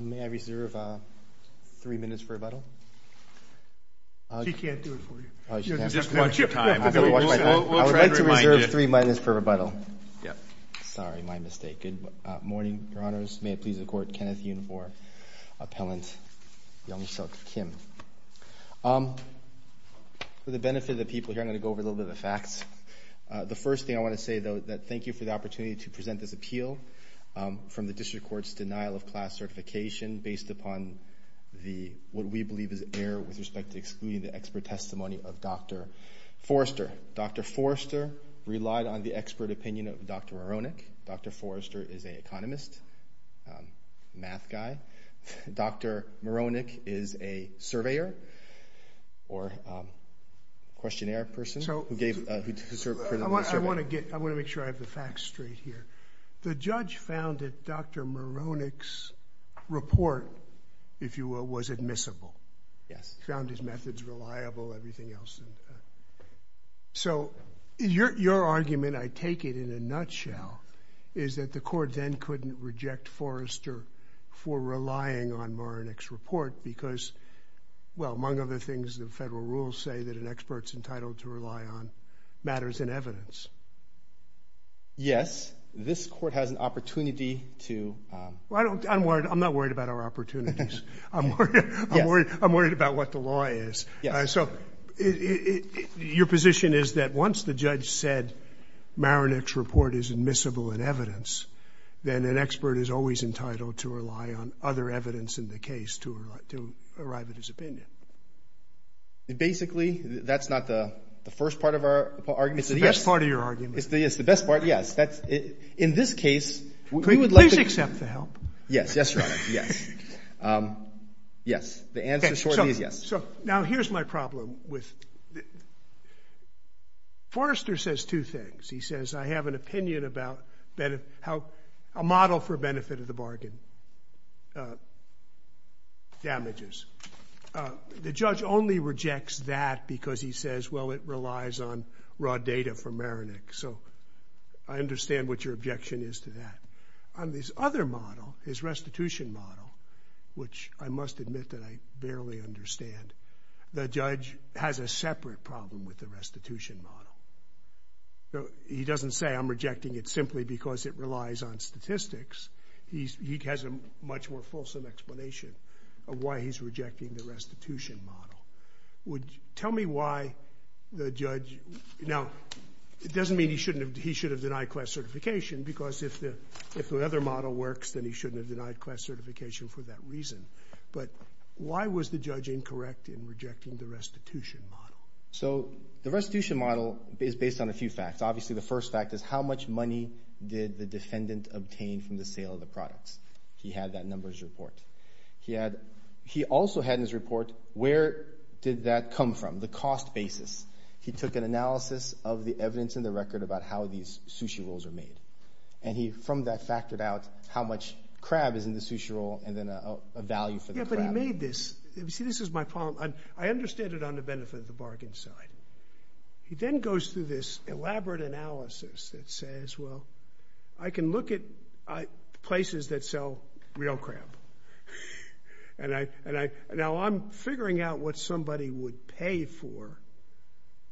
May I reserve three minutes for rebuttal? She can't do it for you. Just watch your time. I would like to reserve three minutes for rebuttal. Sorry, my mistake. Good morning, Your Honors. May it please the Court. Kenneth Yun for Appellant Youngsuk Kim. For the benefit of the people here, I'm going to go over a little bit of the facts. The first thing I want to say, though, is thank you for the opportunity to present this appeal from the District Court's denial of class certification based upon what we believe is error with respect to excluding the expert testimony of Dr. Forrester. Dr. Forrester relied on the expert opinion of Dr. Moronic. Dr. Forrester is an economist, math guy. Dr. Moronic is a surveyor or questionnaire person. I want to make sure I have the facts straight here. The judge found that Dr. Moronic's report, if you will, was admissible. He found his methods reliable, everything else. So your argument, I take it in a nutshell, is that the court then couldn't reject Forrester for relying on Moronic's report because, well, among other things, the federal rules say that an expert's entitled to rely on matters in evidence. Yes, this court has an opportunity to. I'm not worried about our opportunities. I'm worried about what the law is. So your position is that once the judge said Moronic's report is admissible in evidence, then an expert is always entitled to rely on other evidence in the case to arrive at his opinion. Basically, that's not the first part of our argument. It's the best part of your argument. It's the best part, yes. In this case, we would like to- Please accept the help. Yes, Your Honor, yes. Yes. The answer is yes. So now here's my problem with- Forrester says two things. He says, I have an opinion about how a model for benefit of the bargain damages. The judge only rejects that because he says, well, it relies on raw data from Moronic. So I understand what your objection is to that. On this other model, his restitution model, which I must admit that I barely understand, the judge has a separate problem with the restitution model. He doesn't say, I'm rejecting it simply because it relies on statistics. He has a much more fulsome explanation of why he's rejecting the restitution model. Tell me why the judge- Now, it doesn't mean he should have denied class certification because if the other model works, then he shouldn't have denied class certification for that reason. But why was the judge incorrect in rejecting the restitution model? So the restitution model is based on a few facts. Obviously, the first fact is how much money did the defendant obtain from the sale of the products? He had that numbers report. He also had in his report where did that come from, the cost basis. He took an analysis of the evidence in the record about how these sushi rolls are made. And he from that factored out how much crab is in the sushi roll and then a value for the crab. Yeah, but he made this. You see, this is my problem. I understand it on the benefit of the bargain side. He then goes through this elaborate analysis that says, well, I can look at places that sell real crab. Now, I'm figuring out what somebody would pay for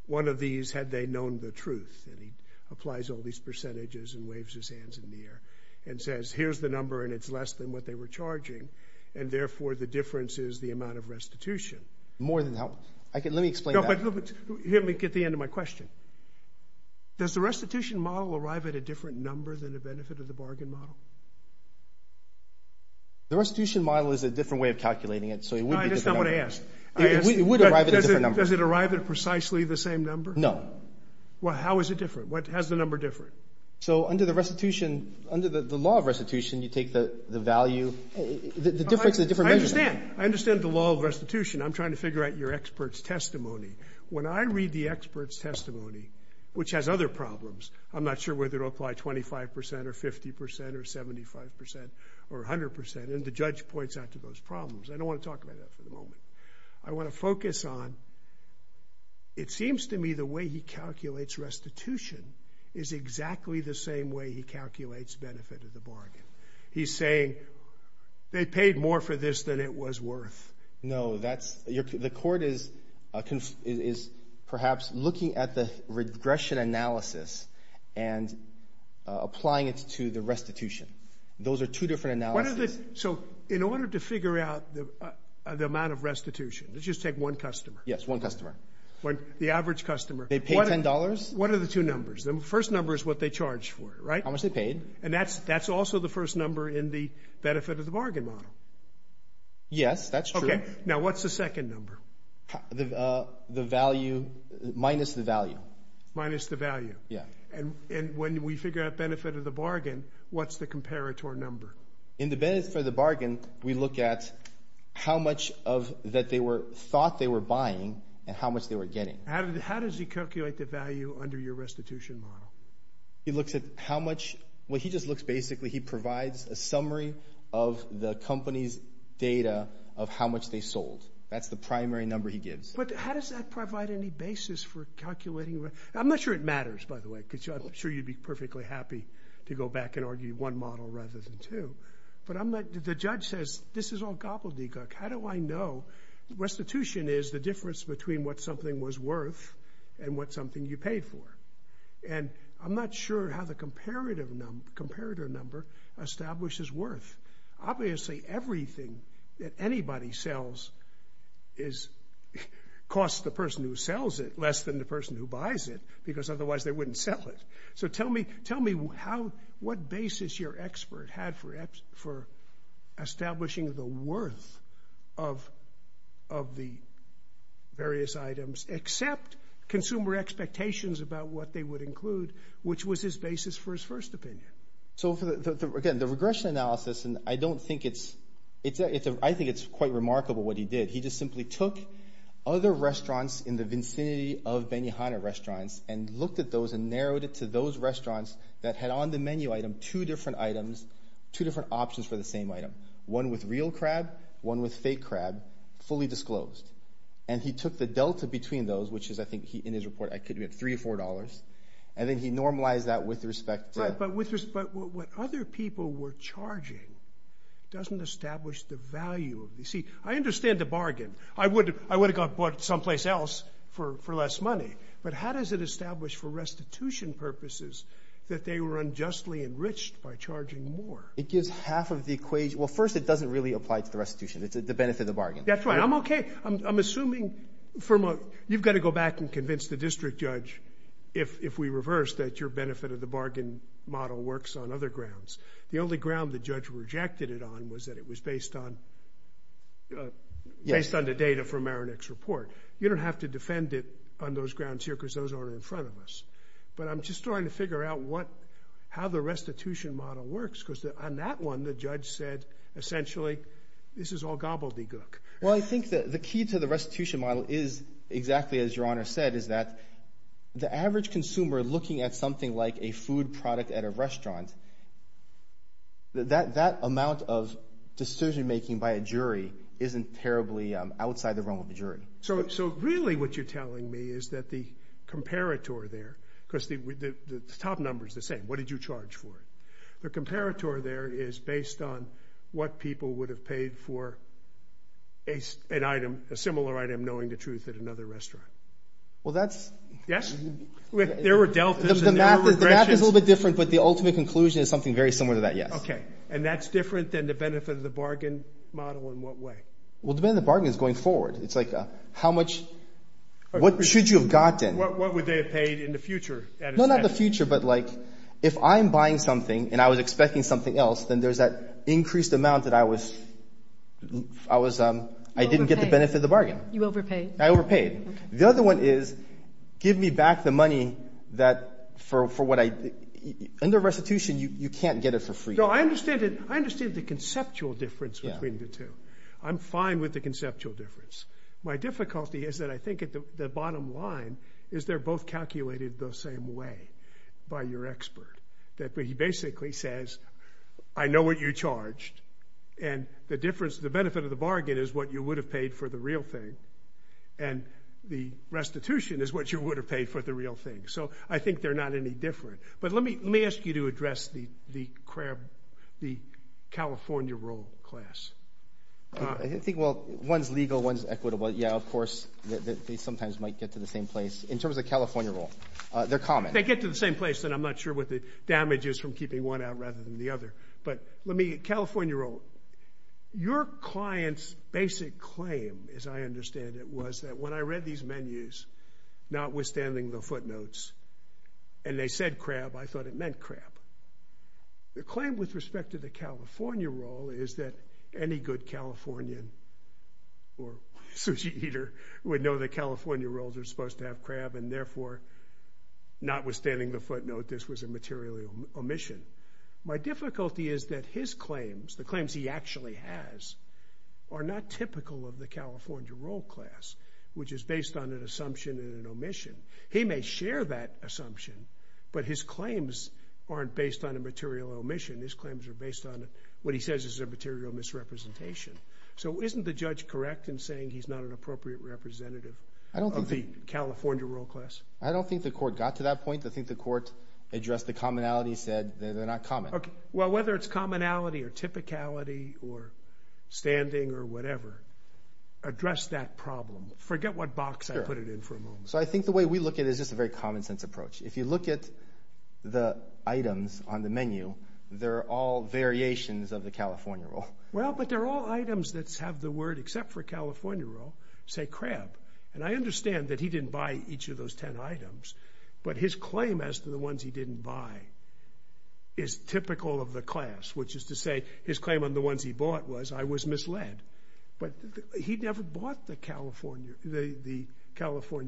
one of these had they known the truth. And he applies all these percentages and waves his hands in the air and says, here's the number and it's less than what they were charging. And therefore, the difference is the amount of restitution. More than that. Let me explain that. Let me get to the end of my question. Does the restitution model arrive at a different number than the benefit of the bargain model? The restitution model is a different way of calculating it. So it would be different. I just don't want to ask. It would arrive at a different number. Does it arrive at precisely the same number? No. Well, how is it different? What has the number different? So under the restitution, under the law of restitution, you take the value. The difference is a different measure. I understand. I understand the law of restitution. I'm trying to figure out your expert's testimony. When I read the expert's testimony, which has other problems, I'm not sure whether it will apply 25 percent or 50 percent or 75 percent or 100 percent. And the judge points out to those problems. I don't want to talk about that for the moment. I want to focus on it seems to me the way he calculates restitution is exactly the same way he calculates benefit of the bargain. He's saying they paid more for this than it was worth. No. The court is perhaps looking at the regression analysis and applying it to the restitution. Those are two different analyses. So in order to figure out the amount of restitution, let's just take one customer. Yes, one customer. The average customer. They paid $10. What are the two numbers? The first number is what they charged for it, right? How much they paid. And that's also the first number in the benefit of the bargain model. Yes, that's true. Now what's the second number? The value minus the value. Minus the value. Yes. And when we figure out benefit of the bargain, what's the comparator number? In the benefit of the bargain, we look at how much that they thought they were buying and how much they were getting. How does he calculate the value under your restitution model? He looks at how much. Well, he just looks basically. He provides a summary of the company's data of how much they sold. That's the primary number he gives. But how does that provide any basis for calculating? I'm not sure it matters, by the way, because I'm sure you'd be perfectly happy to go back and argue one model rather than two. But the judge says, this is all gobbledygook. How do I know? Restitution is the difference between what something was worth and what something you paid for. And I'm not sure how the comparator number establishes worth. Obviously, everything that anybody sells costs the person who sells it less than the person who buys it because otherwise they wouldn't sell it. So tell me what basis your expert had for establishing the worth of the various items except consumer expectations about what they would include, which was his basis for his first opinion. So, again, the regression analysis, and I don't think it's – I think it's quite remarkable what he did. He just simply took other restaurants in the vicinity of Benihana restaurants and looked at those and narrowed it to those restaurants that had on the menu item two different items, two different options for the same item. One with real crab, one with fake crab, fully disclosed. And he took the delta between those, which is, I think, in his report, three or four dollars, and then he normalized that with respect to – But what other people were charging doesn't establish the value. You see, I understand the bargain. I would have got bought someplace else for less money, but how does it establish for restitution purposes that they were unjustly enriched by charging more? It gives half of the – well, first, it doesn't really apply to the restitution. It's the benefit of the bargain. That's right. I'm okay. I'm assuming – you've got to go back and convince the district judge if we reverse that your benefit of the bargain model works on other grounds. The only ground the judge rejected it on was that it was based on – based on the data from Aranex's report. You don't have to defend it on those grounds here because those aren't in front of us. But I'm just trying to figure out what – how the restitution model works because on that one, the judge said essentially this is all gobbledygook. Well, I think the key to the restitution model is exactly as Your Honor said is that the average consumer looking at something like a food product at a restaurant, that amount of decision making by a jury isn't terribly outside the realm of the jury. So really what you're telling me is that the comparator there – because the top number is the same. What did you charge for it? The comparator there is based on what people would have paid for an item – a similar item knowing the truth at another restaurant. Well, that's – Yes? There were deltas and there were regressions. The math is a little bit different, but the ultimate conclusion is something very similar to that, yes. Okay, and that's different than the benefit of the bargain model in what way? Well, the benefit of the bargain is going forward. It's like how much – what should you have gotten? What would they have paid in the future? No, not the future, but like if I'm buying something and I was expecting something else, then there's that increased amount that I was – I didn't get the benefit of the bargain. You overpaid. I overpaid. The other one is give me back the money that for what I – under restitution, you can't get it for free. No, I understand it. I understand the conceptual difference between the two. I'm fine with the conceptual difference. My difficulty is that I think at the bottom line is they're both calculated the same way by your expert. He basically says, I know what you charged, and the difference – the benefit of the bargain is what you would have paid for the real thing, and the restitution is what you would have paid for the real thing. So I think they're not any different. But let me ask you to address the California roll class. I think, well, one's legal, one's equitable. Yeah, of course, they sometimes might get to the same place. In terms of California roll, they're common. If they get to the same place, then I'm not sure what the damage is from keeping one out rather than the other. But let me – California roll. Your client's basic claim, as I understand it, was that when I read these menus, notwithstanding the footnotes, and they said crab, I thought it meant crab. The claim with respect to the California roll is that any good Californian or sushi eater would know that California rolls are supposed to have crab, and therefore, notwithstanding the footnote, this was a material omission. My difficulty is that his claims, the claims he actually has, are not typical of the California roll class, which is based on an assumption and an omission. He may share that assumption, but his claims aren't based on a material omission. His claims are based on what he says is a material misrepresentation. So isn't the judge correct in saying he's not an appropriate representative of the California roll class? I don't think the court got to that point. I think the court addressed the commonality, said they're not common. Okay. Well, whether it's commonality or typicality or standing or whatever, address that problem. Forget what box I put it in for a moment. So I think the way we look at it is just a very common sense approach. If you look at the items on the menu, they're all variations of the California roll. Well, but they're all items that have the word, except for California roll, say crab. And I understand that he didn't buy each of those ten items, but his claim as to the ones he didn't buy is typical of the class, which is to say his claim on the ones he bought was I was misled. But he never bought the California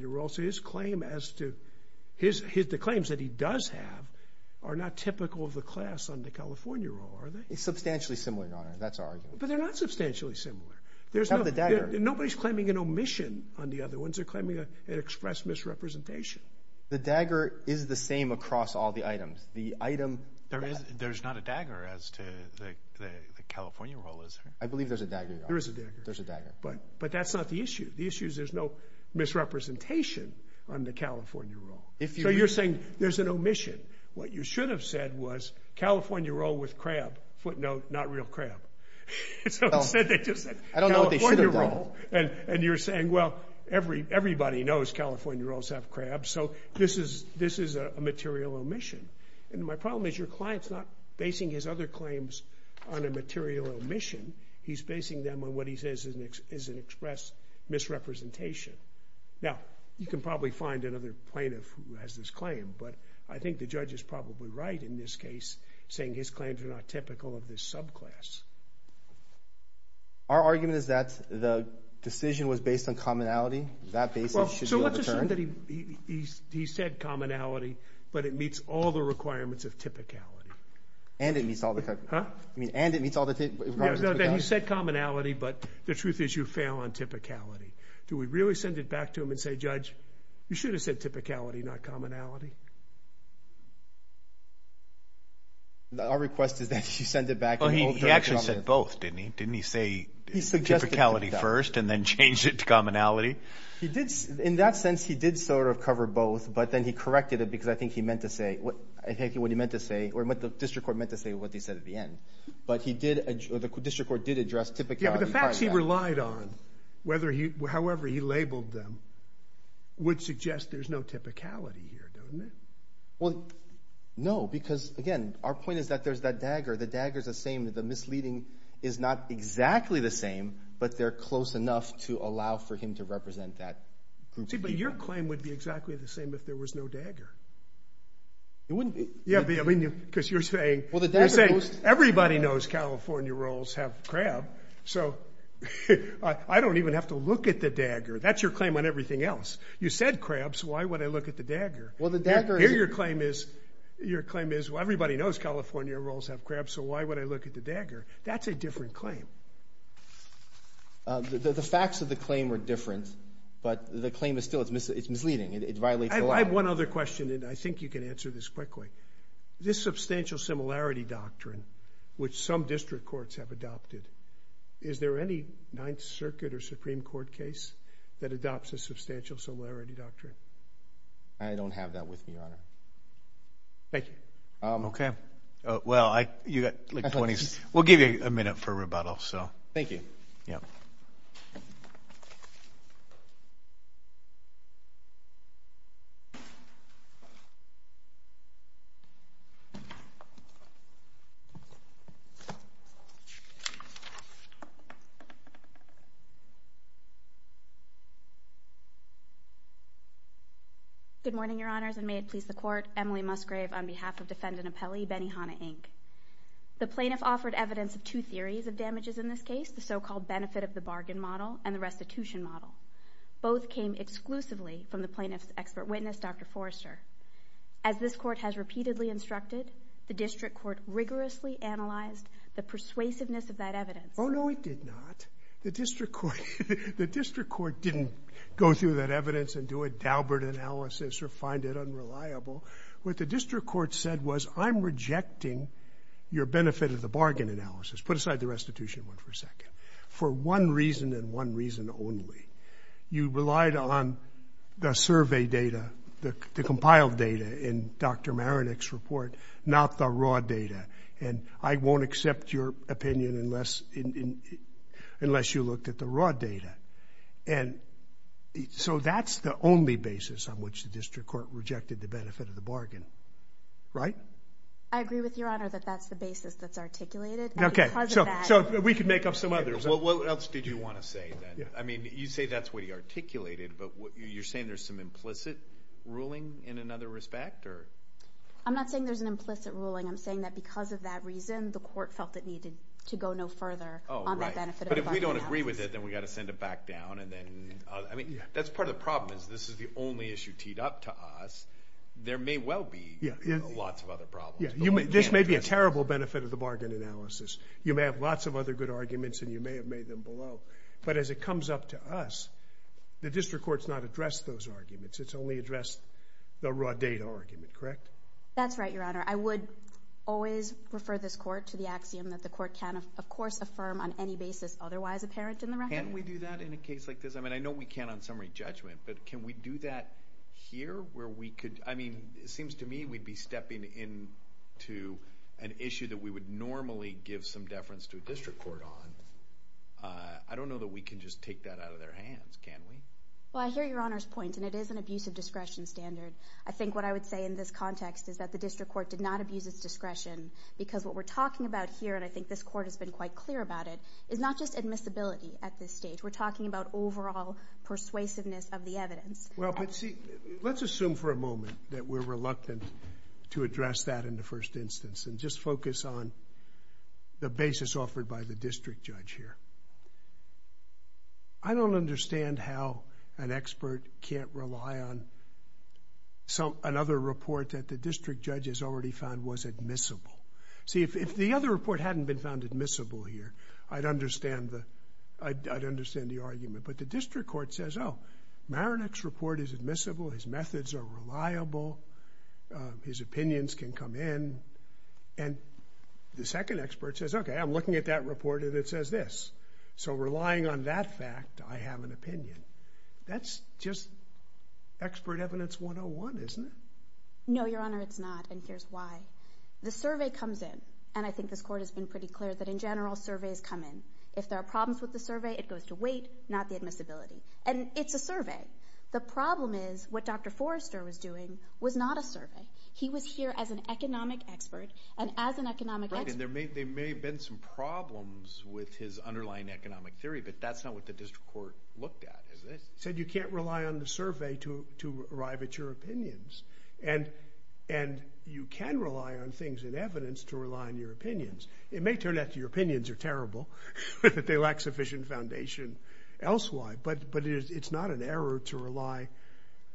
roll. So his claim as to his claims that he does have are not typical of the class on the California roll, are they? It's substantially similar, Your Honor. That's our argument. But they're not substantially similar. They have the dagger. Nobody's claiming an omission on the other ones. They're claiming an express misrepresentation. The dagger is the same across all the items. The item – There's not a dagger as to the California roll, is there? I believe there's a dagger, Your Honor. There is a dagger. There's a dagger. But that's not the issue. The issue is there's no misrepresentation on the California roll. So you're saying there's an omission. What you should have said was California roll with crab, footnote, not real crab. I don't know what they should have done. And you're saying, well, everybody knows California rolls have crab, so this is a material omission. And my problem is your client's not basing his other claims on a material omission. He's basing them on what he says is an express misrepresentation. Now, you can probably find another plaintiff who has this claim, but I think the judge is probably right in this case saying his claims are not typical of this subclass. Our argument is that the decision was based on commonality. That basis should be overturned. So let's assume that he said commonality, but it meets all the requirements of typicality. And it meets all the requirements of typicality. He said commonality, but the truth is you fail on typicality. Do we really send it back to him and say, Judge, you should have said typicality, not commonality? Our request is that you send it back and overturn it. Well, he actually said both, didn't he? Didn't he say typicality first and then change it to commonality? In that sense, he did sort of cover both, but then he corrected it because I think he meant to say what the district court meant to say what they said at the end. But the district court did address typicality part of that. Yeah, but the facts he relied on, however he labeled them, would suggest there's no typicality here, don't it? Well, no, because, again, our point is that there's that dagger. The dagger is the same. is not exactly the same, but they're close enough to allow for him to represent that group of people. See, but your claim would be exactly the same if there was no dagger. It wouldn't be. Yeah, because you're saying everybody knows California rolls have crab, so I don't even have to look at the dagger. That's your claim on everything else. You said crabs. Why would I look at the dagger? Here your claim is everybody knows California rolls have crab, so why would I look at the dagger? That's a different claim. The facts of the claim are different, but the claim is still misleading. It violates the law. I have one other question, and I think you can answer this quickly. This substantial similarity doctrine, which some district courts have adopted, is there any Ninth Circuit or Supreme Court case that adopts a substantial similarity doctrine? I don't have that with me, Your Honor. Thank you. Okay. Well, you've got 20 seconds. We'll give you a minute for rebuttal. Thank you. Good morning, Your Honors, and may it please the Court. Emily Musgrave on behalf of Defendant Apelli, Benihana, Inc. The plaintiff offered evidence of two theories of damages in this case, the so-called benefit of the bargain model and the restitution model. Both came exclusively from the plaintiff's expert witness, Dr. Forrester. As this Court has repeatedly instructed, the district court rigorously analyzed the persuasiveness of that evidence. Oh, no, it did not. The district court didn't go through that evidence and do a dabbled analysis or find it unreliable. What the district court said was, I'm rejecting your benefit of the bargain analysis. Put aside the restitution one for a second. For one reason and one reason only. You relied on the survey data, the compiled data in Dr. Marinik's report, not the raw data, and I won't accept your opinion unless you looked at the raw data. And so that's the only basis on which the district court rejected the benefit of the bargain, right? I agree with Your Honor that that's the basis that's articulated. Okay, so we can make up some others. What else did you want to say then? I mean, you say that's what he articulated, but you're saying there's some implicit ruling in another respect? I'm not saying there's an implicit ruling. I'm saying that because of that reason, the court felt it needed to go no further on that benefit of the bargain analysis. But if we don't agree with it, then we've got to send it back down. I mean, that's part of the problem is this is the only issue teed up to us. There may well be lots of other problems. This may be a terrible benefit of the bargain analysis. You may have lots of other good arguments, and you may have made them below. But as it comes up to us, the district court's not addressed those arguments. It's only addressed the raw data argument, correct? That's right, Your Honor. I would always refer this court to the axiom that the court can, of course, affirm on any basis otherwise apparent in the record. Can't we do that in a case like this? I mean, I know we can on summary judgment, but can we do that here where we could? I mean, it seems to me we'd be stepping into an issue that we would normally give some deference to a district court on. I don't know that we can just take that out of their hands, can we? Well, I hear Your Honor's point, and it is an abuse of discretion standard. I think what I would say in this context is that the district court did not abuse its discretion because what we're talking about here, and I think this court has been quite clear about it, is not just admissibility at this stage. We're talking about overall persuasiveness of the evidence. Well, but see, let's assume for a moment that we're reluctant to address that in the first instance and just focus on the basis offered by the district judge here. I don't understand how an expert can't rely on another report that the district judge has already found was admissible. See, if the other report hadn't been found admissible here, I'd understand the argument. But the district court says, oh, Maronek's report is admissible, his methods are reliable, his opinions can come in. And the second expert says, okay, I'm looking at that report and it says this. So relying on that fact, I have an opinion. That's just expert evidence 101, isn't it? No, Your Honor, it's not, and here's why. The survey comes in, and I think this court has been pretty clear that in general, surveys come in. If there are problems with the survey, it goes to weight, not the admissibility. And it's a survey. He was here as an economic expert, and as an economic expert. Right, and there may have been some problems with his underlying economic theory, but that's not what the district court looked at, is it? It said you can't rely on the survey to arrive at your opinions. And you can rely on things in evidence to rely on your opinions. It may turn out that your opinions are terrible, that they lack sufficient foundation elsewhere, but it's not an error to rely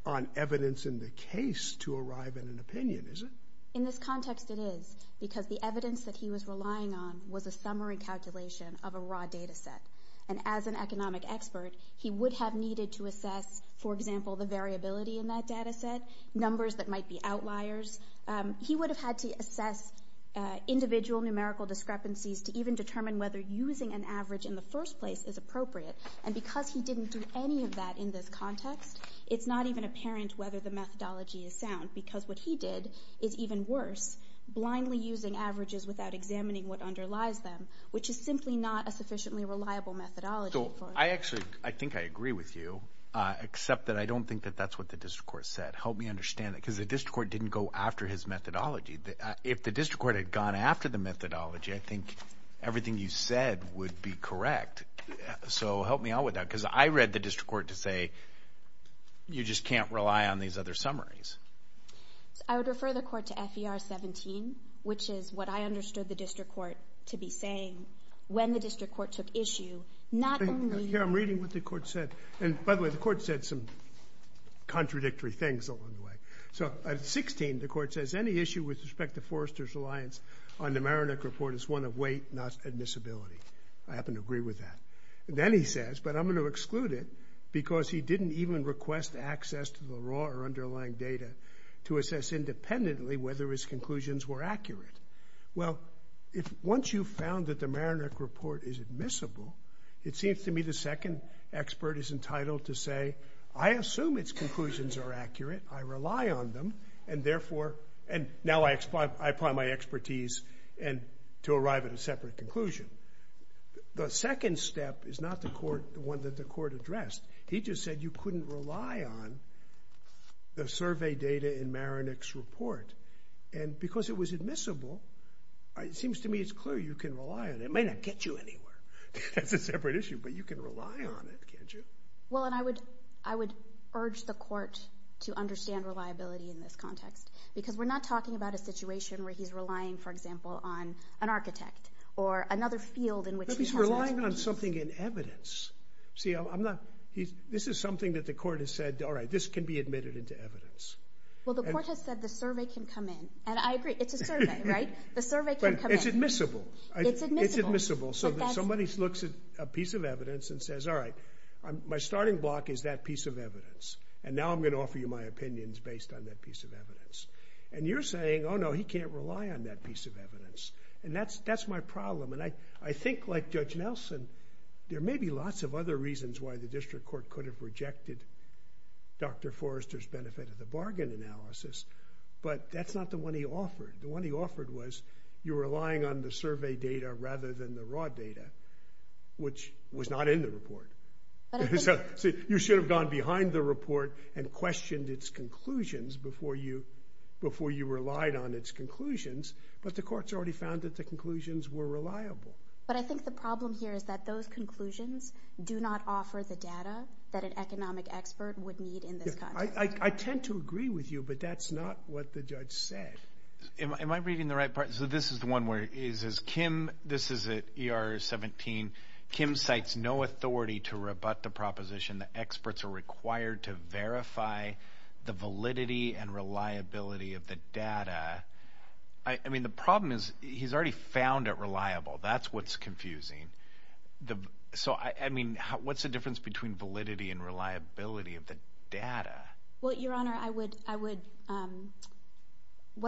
on evidence in the case to arrive at an opinion, is it? In this context, it is, because the evidence that he was relying on was a summary calculation of a raw data set. And as an economic expert, he would have needed to assess, for example, the variability in that data set, numbers that might be outliers. He would have had to assess individual numerical discrepancies to even determine whether using an average in the first place is appropriate. And because he didn't do any of that in this context, it's not even apparent whether the methodology is sound, because what he did is even worse, blindly using averages without examining what underlies them, which is simply not a sufficiently reliable methodology. So I actually think I agree with you, except that I don't think that that's what the district court said. Help me understand that, because the district court didn't go after his methodology. If the district court had gone after the methodology, I think everything you said would be correct. So help me out with that, because I read the district court to say, you just can't rely on these other summaries. I would refer the court to FER 17, which is what I understood the district court to be saying when the district court took issue. Here, I'm reading what the court said. And by the way, the court said some contradictory things along the way. So at 16, the court says, any issue with respect to Forrester's reliance on the Maronich Report is one of weight, not admissibility. I happen to agree with that. Then he says, but I'm going to exclude it, because he didn't even request access to the raw or underlying data to assess independently whether his conclusions were accurate. Well, once you've found that the Maronich Report is admissible, it seems to me the second expert is entitled to say, I assume its conclusions are accurate, I rely on them, and now I apply my expertise to arrive at a separate conclusion. The second step is not the one that the court addressed. He just said you couldn't rely on the survey data in Maronich's report. And because it was admissible, it seems to me it's clear you can rely on it. It may not get you anywhere. That's a separate issue, but you can rely on it, can't you? Well, and I would urge the court to understand reliability in this context, because we're not talking about a situation where he's relying, for example, on an architect or another field in which he has an expertise. No, he's relying on something in evidence. See, this is something that the court has said, all right, this can be admitted into evidence. Well, the court has said the survey can come in, and I agree, it's a survey, right? The survey can come in. But it's admissible. It's admissible. Somebody looks at a piece of evidence and says, all right, my starting block is that piece of evidence, and now I'm going to offer you my opinions based on that piece of evidence. And you're saying, oh, no, he can't rely on that piece of evidence, and that's my problem. And I think, like Judge Nelson, there may be lots of other reasons why the district court could have rejected Dr. Forrester's benefit of the bargain analysis, but that's not the one he offered. The one he offered was you're relying on the survey data rather than the raw data, which was not in the report. You should have gone behind the report and questioned its conclusions before you relied on its conclusions, but the court's already found that the conclusions were reliable. But I think the problem here is that those conclusions do not offer the data that an economic expert would need in this context. I tend to agree with you, but that's not what the judge said. Am I reading the right part? So this is the one where it says, Kim, this is at ER 17, Kim cites no authority to rebut the proposition that experts are required to verify the validity and reliability of the data. I mean, the problem is he's already found it reliable. That's what's confusing. So, I mean, what's the difference between validity and reliability of the data? Well, Your Honor, what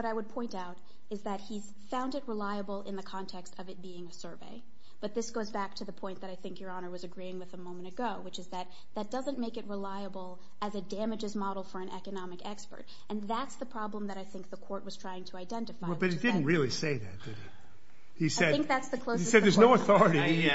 I would point out is that he's found it reliable in the context of it being a survey, but this goes back to the point that I think Your Honor was agreeing with a moment ago, which is that that doesn't make it reliable as it damages model for an economic expert, and that's the problem that I think the court was trying to identify. But he didn't really say that, did he? I think that's the closest. He said there's no authority.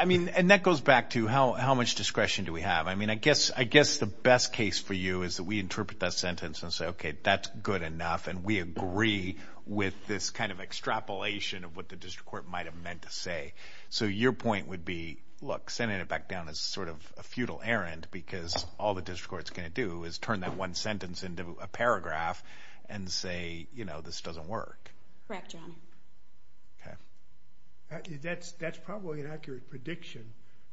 I mean, and that goes back to how much discretion do we have. I mean, I guess the best case for you is that we interpret that sentence and say, okay, that's good enough, and we agree with this kind of extrapolation of what the district court might have meant to say. So your point would be, look, sending it back down is sort of a futile errand because all the district court's going to do is turn that one sentence into a paragraph and say, you know, this doesn't work. Correct, Your Honor. Okay. That's probably an accurate prediction,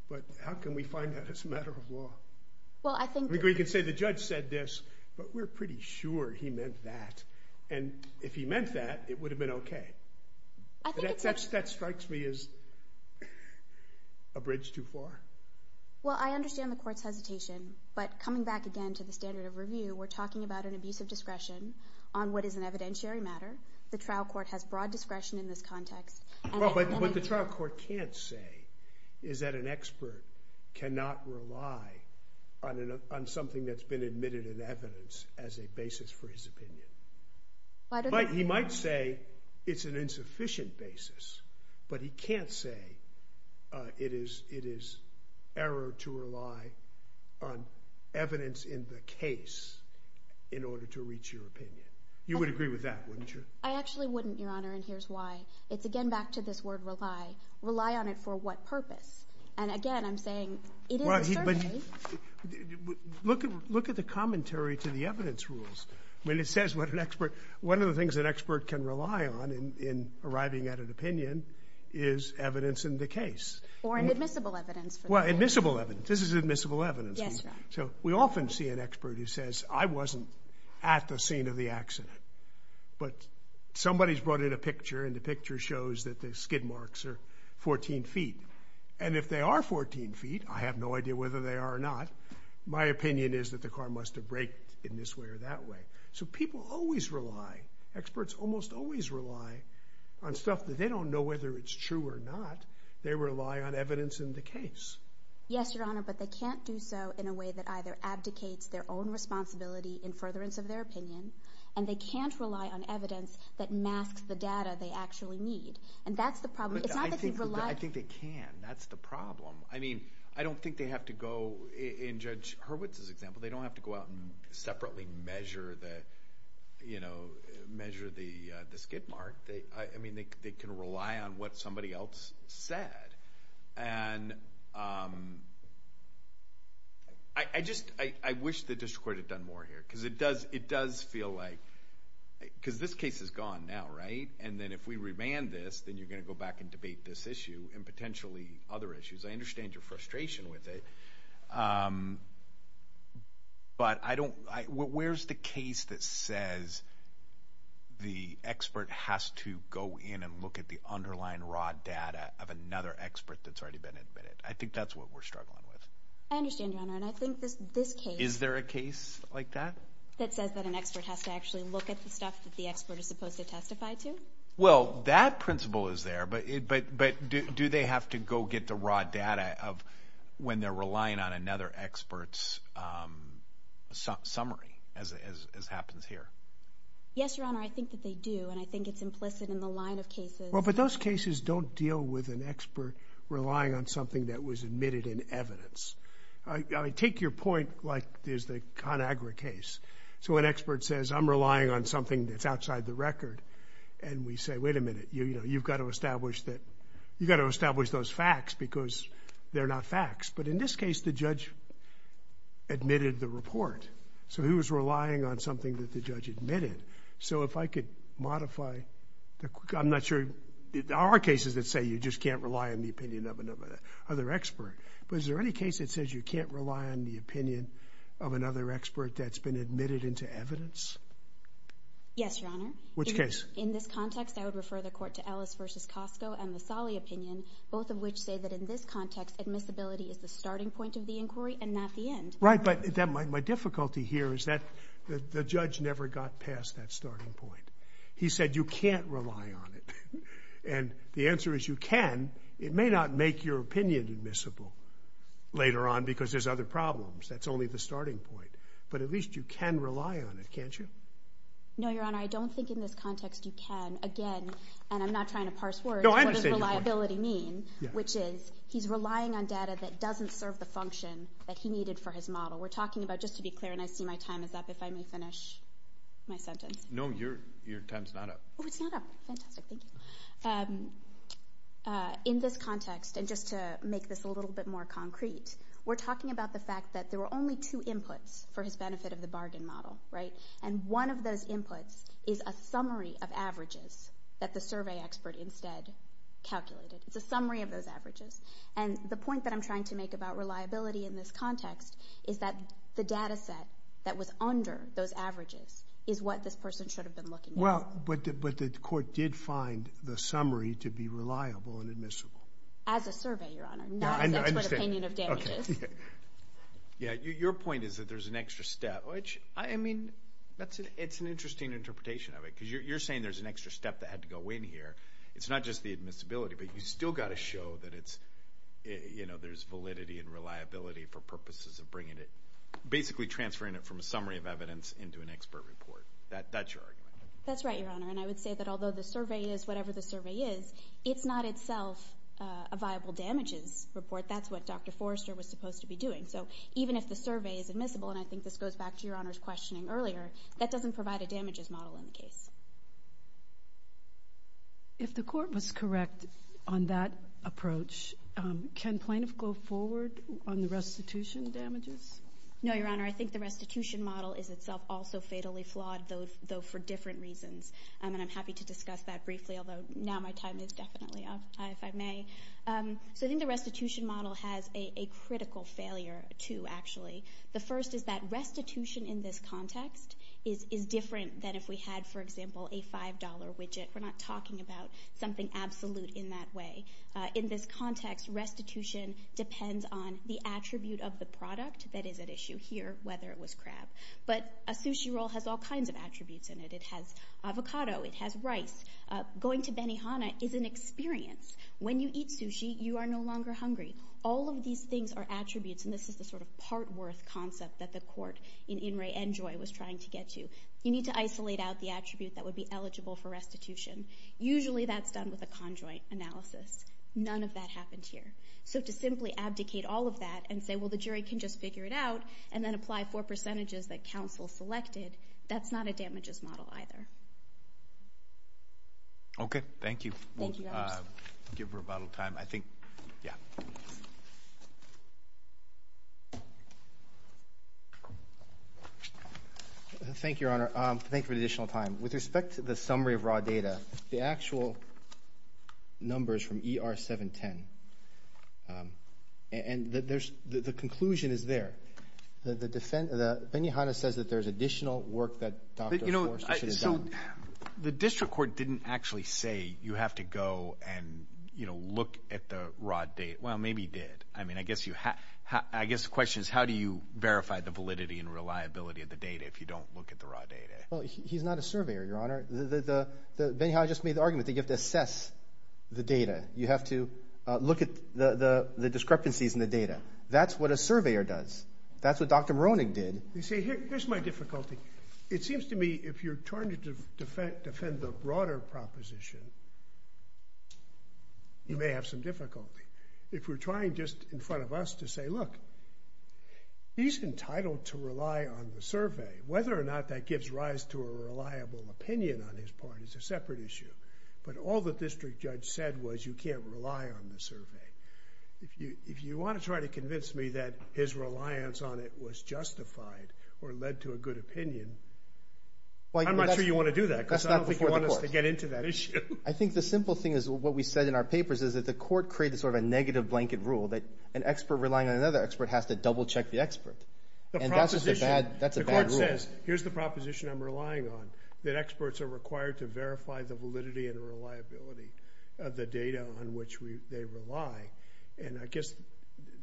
but how can we find that as a matter of law? We could say the judge said this, but we're pretty sure he meant that, and if he meant that, it would have been okay. That strikes me as a bridge too far. Well, I understand the court's hesitation, but coming back again to the standard of review, we're talking about an abuse of discretion on what is an evidentiary matter. The trial court has broad discretion in this context. What the trial court can't say is that an expert cannot rely on something that's been admitted in evidence as a basis for his opinion. He might say it's an insufficient basis, but he can't say it is error to rely on evidence in the case in order to reach your opinion. You would agree with that, wouldn't you? I actually wouldn't, Your Honor, and here's why. It's, again, back to this word rely. Rely on it for what purpose? And, again, I'm saying it is a survey. Look at the commentary to the evidence rules. When it says what an expert, one of the things an expert can rely on in arriving at an opinion is evidence in the case. Or an admissible evidence. Well, admissible evidence. This is admissible evidence. Yes, Your Honor. So we often see an expert who says, I wasn't at the scene of the accident, but somebody's brought in a picture, and the picture shows that the skid marks are 14 feet. And if they are 14 feet, I have no idea whether they are or not, my opinion is that the car must have braked in this way or that way. So people always rely, experts almost always rely, on stuff that they don't know whether it's true or not. They rely on evidence in the case. Yes, Your Honor, but they can't do so in a way that either abdicates their own responsibility in furtherance of their opinion, and they can't rely on evidence that masks the data they actually need. And that's the problem. It's not that they rely. I think they can. That's the problem. I mean, I don't think they have to go, in Judge Hurwitz's example, they don't have to go out and separately measure the skid mark. I mean, they can rely on what somebody else said. And I just wish the district court had done more here, because it does feel like, because this case is gone now, right? And then if we remand this, then you're going to go back and debate this issue and potentially other issues. I understand your frustration with it, but I don't, where's the case that says the expert has to go in and look at the underlying raw data of another expert that's already been admitted? I think that's what we're struggling with. I understand, Your Honor, and I think this case... Is there a case like that? That says that an expert has to actually look at the stuff that the expert is supposed to testify to? Well, that principle is there, but do they have to go get the raw data of when they're relying on another expert's summary, as happens here? Yes, Your Honor, I think that they do, and I think it's implicit in the line of cases... Well, but those cases don't deal with an expert relying on something that was admitted in evidence. Take your point, like there's the ConAgra case. So an expert says, I'm relying on something that's outside the record, and we say, wait a minute, you've got to establish that, you've got to establish those facts, because they're not facts. But in this case, the judge admitted the report, so he was relying on something that the judge admitted. So if I could modify... I'm not sure... There are cases that say you just can't rely on the opinion of another expert, but is there any case that says you can't rely on the opinion of another expert that's been admitted into evidence? Yes, Your Honor. Which case? In this context, I would refer the Court to Ellis v. Cosco and the Salih opinion, both of which say that in this context, admissibility is the starting point of the inquiry and not the end. Right, but my difficulty here is that the judge never got past that starting point. He said you can't rely on it. And the answer is you can. It may not make your opinion admissible later on because there's other problems. That's only the starting point. But at least you can rely on it, can't you? No, Your Honor, I don't think in this context you can. Again, and I'm not trying to parse words... No, I understand your point.... what does reliability mean, which is he's relying on data that doesn't serve the function that he needed for his model. We're talking about, just to be clear, and I see my time is up if I may finish my sentence. No, your time is not up. Oh, it's not up. Fantastic. Thank you. In this context, and just to make this a little bit more concrete, we're talking about the fact that there were only two inputs for his benefit of the bargain model, right? And one of those inputs is a summary of averages that the survey expert instead calculated. It's a summary of those averages. And the point that I'm trying to make about reliability in this context is that the data set that was under those averages is what this person should have been looking at. Well, but the court did find the summary to be reliable and admissible. As a survey, Your Honor, not as an opinion of damages. Okay. Yeah, your point is that there's an extra step, which, I mean, it's an interesting interpretation of it because you're saying there's an extra step that had to go in here. It's not just the admissibility, but you've still got to show that it's, you know, there's validity and reliability for purposes of bringing it, basically transferring it from a summary of evidence into an expert report. That's your argument. That's right, Your Honor. And I would say that although the survey is whatever the survey is, it's not itself a viable damages report. That's what Dr. Forrester was supposed to be doing. So even if the survey is admissible, and I think this goes back to Your Honor's questioning earlier, that doesn't provide a damages model in the case. If the court was correct on that approach, can plaintiffs go forward on the restitution damages? No, Your Honor. I think the restitution model is itself also fatally flawed, though for different reasons. And I'm happy to discuss that briefly, although now my time is definitely up, if I may. So I think the restitution model has a critical failure, too, actually. The first is that restitution in this context is different than if we had, for example, a $5 widget. We're not talking about something absolute in that way. In this context, restitution depends on the attribute of the product that is at issue here, whether it was crab. But a sushi roll has all kinds of attributes in it. It has avocado. It has rice. Going to Benihana is an experience. When you eat sushi, you are no longer hungry. All of these things are attributes, and this is the sort of part worth concept that the court in In re Enjoy was trying to get to. You need to isolate out the attribute that would be eligible for restitution. Usually that's done with a conjoint analysis. None of that happened here. So to simply abdicate all of that and say, well, the jury can just figure it out, and then apply four percentages that counsel selected, that's not a damages model either. Okay. Thank you. Thank you, Your Honor. I'll give rebuttal time. I think, yeah. Thank you, Your Honor. Thank you for the additional time. With respect to the summary of raw data, the actual numbers from ER 710, and the conclusion is there. Benihana says that there's additional work that Dr. Forster should have done. The district court didn't actually say you have to go and, you know, look at the raw data. Well, maybe it did. I mean, I guess the question is how do you verify the validity and reliability of the data if you don't look at the raw data? Well, he's not a surveyor, Your Honor. Benihana just made the argument that you have to assess the data. You have to look at the discrepancies in the data. That's what a surveyor does. That's what Dr. Maroney did. You see, here's my difficulty. It seems to me if you're trying to defend the broader proposition, you may have some difficulty. If we're trying just in front of us to say, look, he's entitled to rely on the survey. Whether or not that gives rise to a reliable opinion on his part is a separate issue. But all the district judge said was you can't rely on the survey. If you want to try to convince me that his reliance on it was justified or led to a good opinion, I'm not sure you want to do that because I don't think you want us to get into that issue. I think the simple thing is what we said in our papers is that the court created sort of a negative blanket rule that an expert relying on another expert has to double check the expert. And that's just a bad rule. The court says here's the proposition I'm relying on, that experts are required to verify the validity and reliability of the data on which they rely. And I guess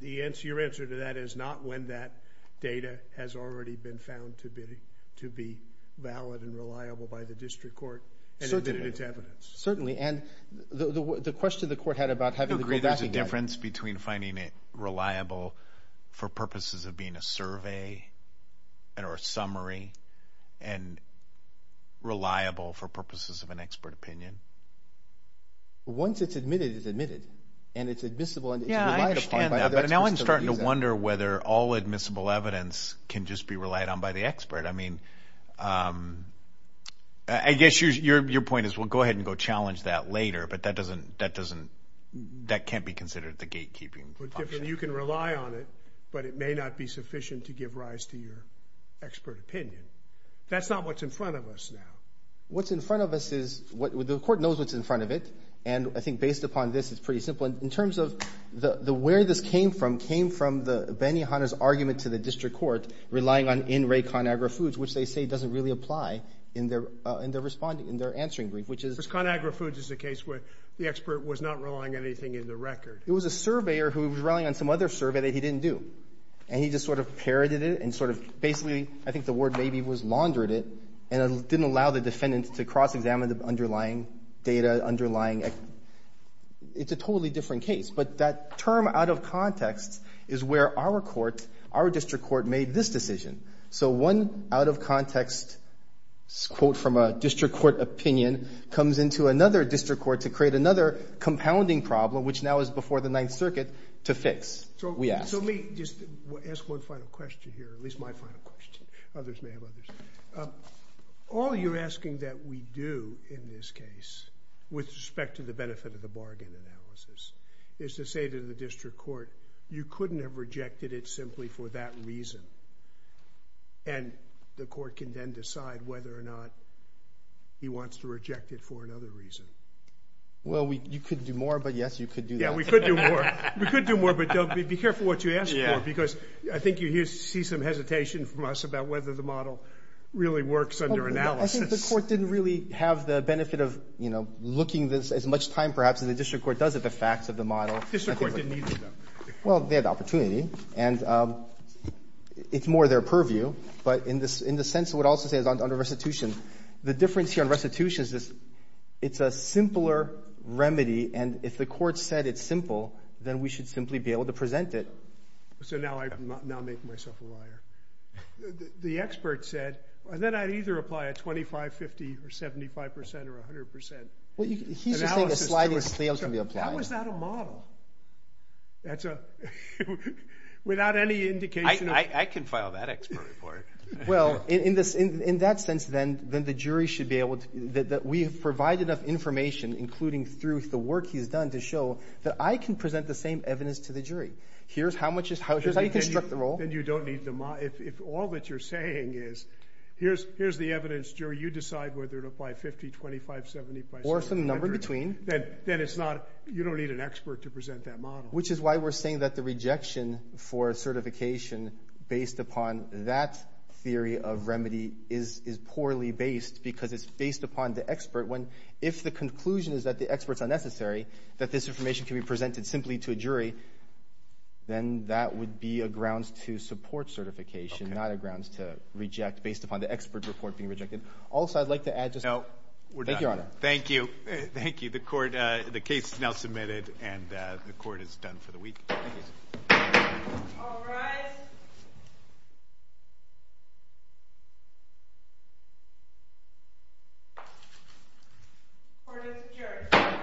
your answer to that is not when that data has already been found to be valid and reliable by the district court and admitted it's evidence. Certainly. And the question the court had about having to go back again. I agree there's a difference between finding it reliable for purposes of being a survey or a summary and reliable for purposes of an expert opinion. Once it's admitted, it's admitted. And it's admissible. Yeah, I understand that. But now I'm starting to wonder whether all admissible evidence can just be relied on by the expert. I mean, I guess your point is we'll go ahead and go challenge that later, but that can't be considered the gatekeeping function. You can rely on it, but it may not be sufficient to give rise to your expert opinion. That's not what's in front of us now. What's in front of us is the court knows what's in front of it. And I think based upon this, it's pretty simple. In terms of where this came from, it came from Benny Hunter's argument to the district court relying on in re con agri foods, which they say doesn't really apply in their answering brief, which is... Con agri foods is a case where the expert was not relying on anything in the record. It was a surveyor who was relying on some other survey that he didn't do. And he just sort of parroted it and sort of basically, I think the word maybe was laundered it and didn't allow the defendant to cross-examine the underlying data, underlying... It's a totally different case. But that term out of context is where our court, our district court made this decision. So one out of context quote from a district court opinion comes into another district court to create another compounding problem, which now is before the Ninth Circuit, to fix, we ask. So let me just ask one final question here, at least my final question. Others may have others. All you're asking that we do in this case with respect to the benefit of the bargain analysis is to say to the district court, you couldn't have rejected it simply for that reason. And the court can then decide whether or not he wants to reject it for another reason. Well, you could do more, but yes, you could do that. Yeah, we could do more. We could do more, but be careful what you ask for, because I think you see some hesitation from us about whether the model really works under analysis. I think the court didn't really have the benefit of looking this as much time perhaps as the district court does at the facts of the model. The district court didn't either, though. Well, they had the opportunity, and it's more their purview. But in the sense of what I would also say is under restitution, the difference here in restitution is it's a simpler remedy, and if the court said it's simple, then we should simply be able to present it. So now I'm making myself a liar. The expert said, then I'd either apply a 25, 50, or 75 percent or 100 percent. He's saying a sliding scale should be applied. How is that a model? Without any indication of – I can file that expert report. Well, in that sense, then the jury should be able to – that we have provided enough information, including through the work he's done, to show that I can present the same evidence to the jury. Here's how you construct the role. Then you don't need the – if all that you're saying is here's the evidence, jury, you decide whether to apply 50, 25, 75, or 100. Or some number in between. Then it's not – you don't need an expert to present that model. Which is why we're saying that the rejection for certification based upon that theory of remedy is poorly based because it's based upon the expert. If the conclusion is that the expert's unnecessary, that this information can be presented simply to a jury, then that would be a grounds to support certification, not a grounds to reject based upon the expert report being rejected. Also, I'd like to add just – No, we're done. Thank you, Your Honor. Thank you. Thank you. The court – the case is now submitted and the court is done for the week. Thank you. All rise. Court is adjourned.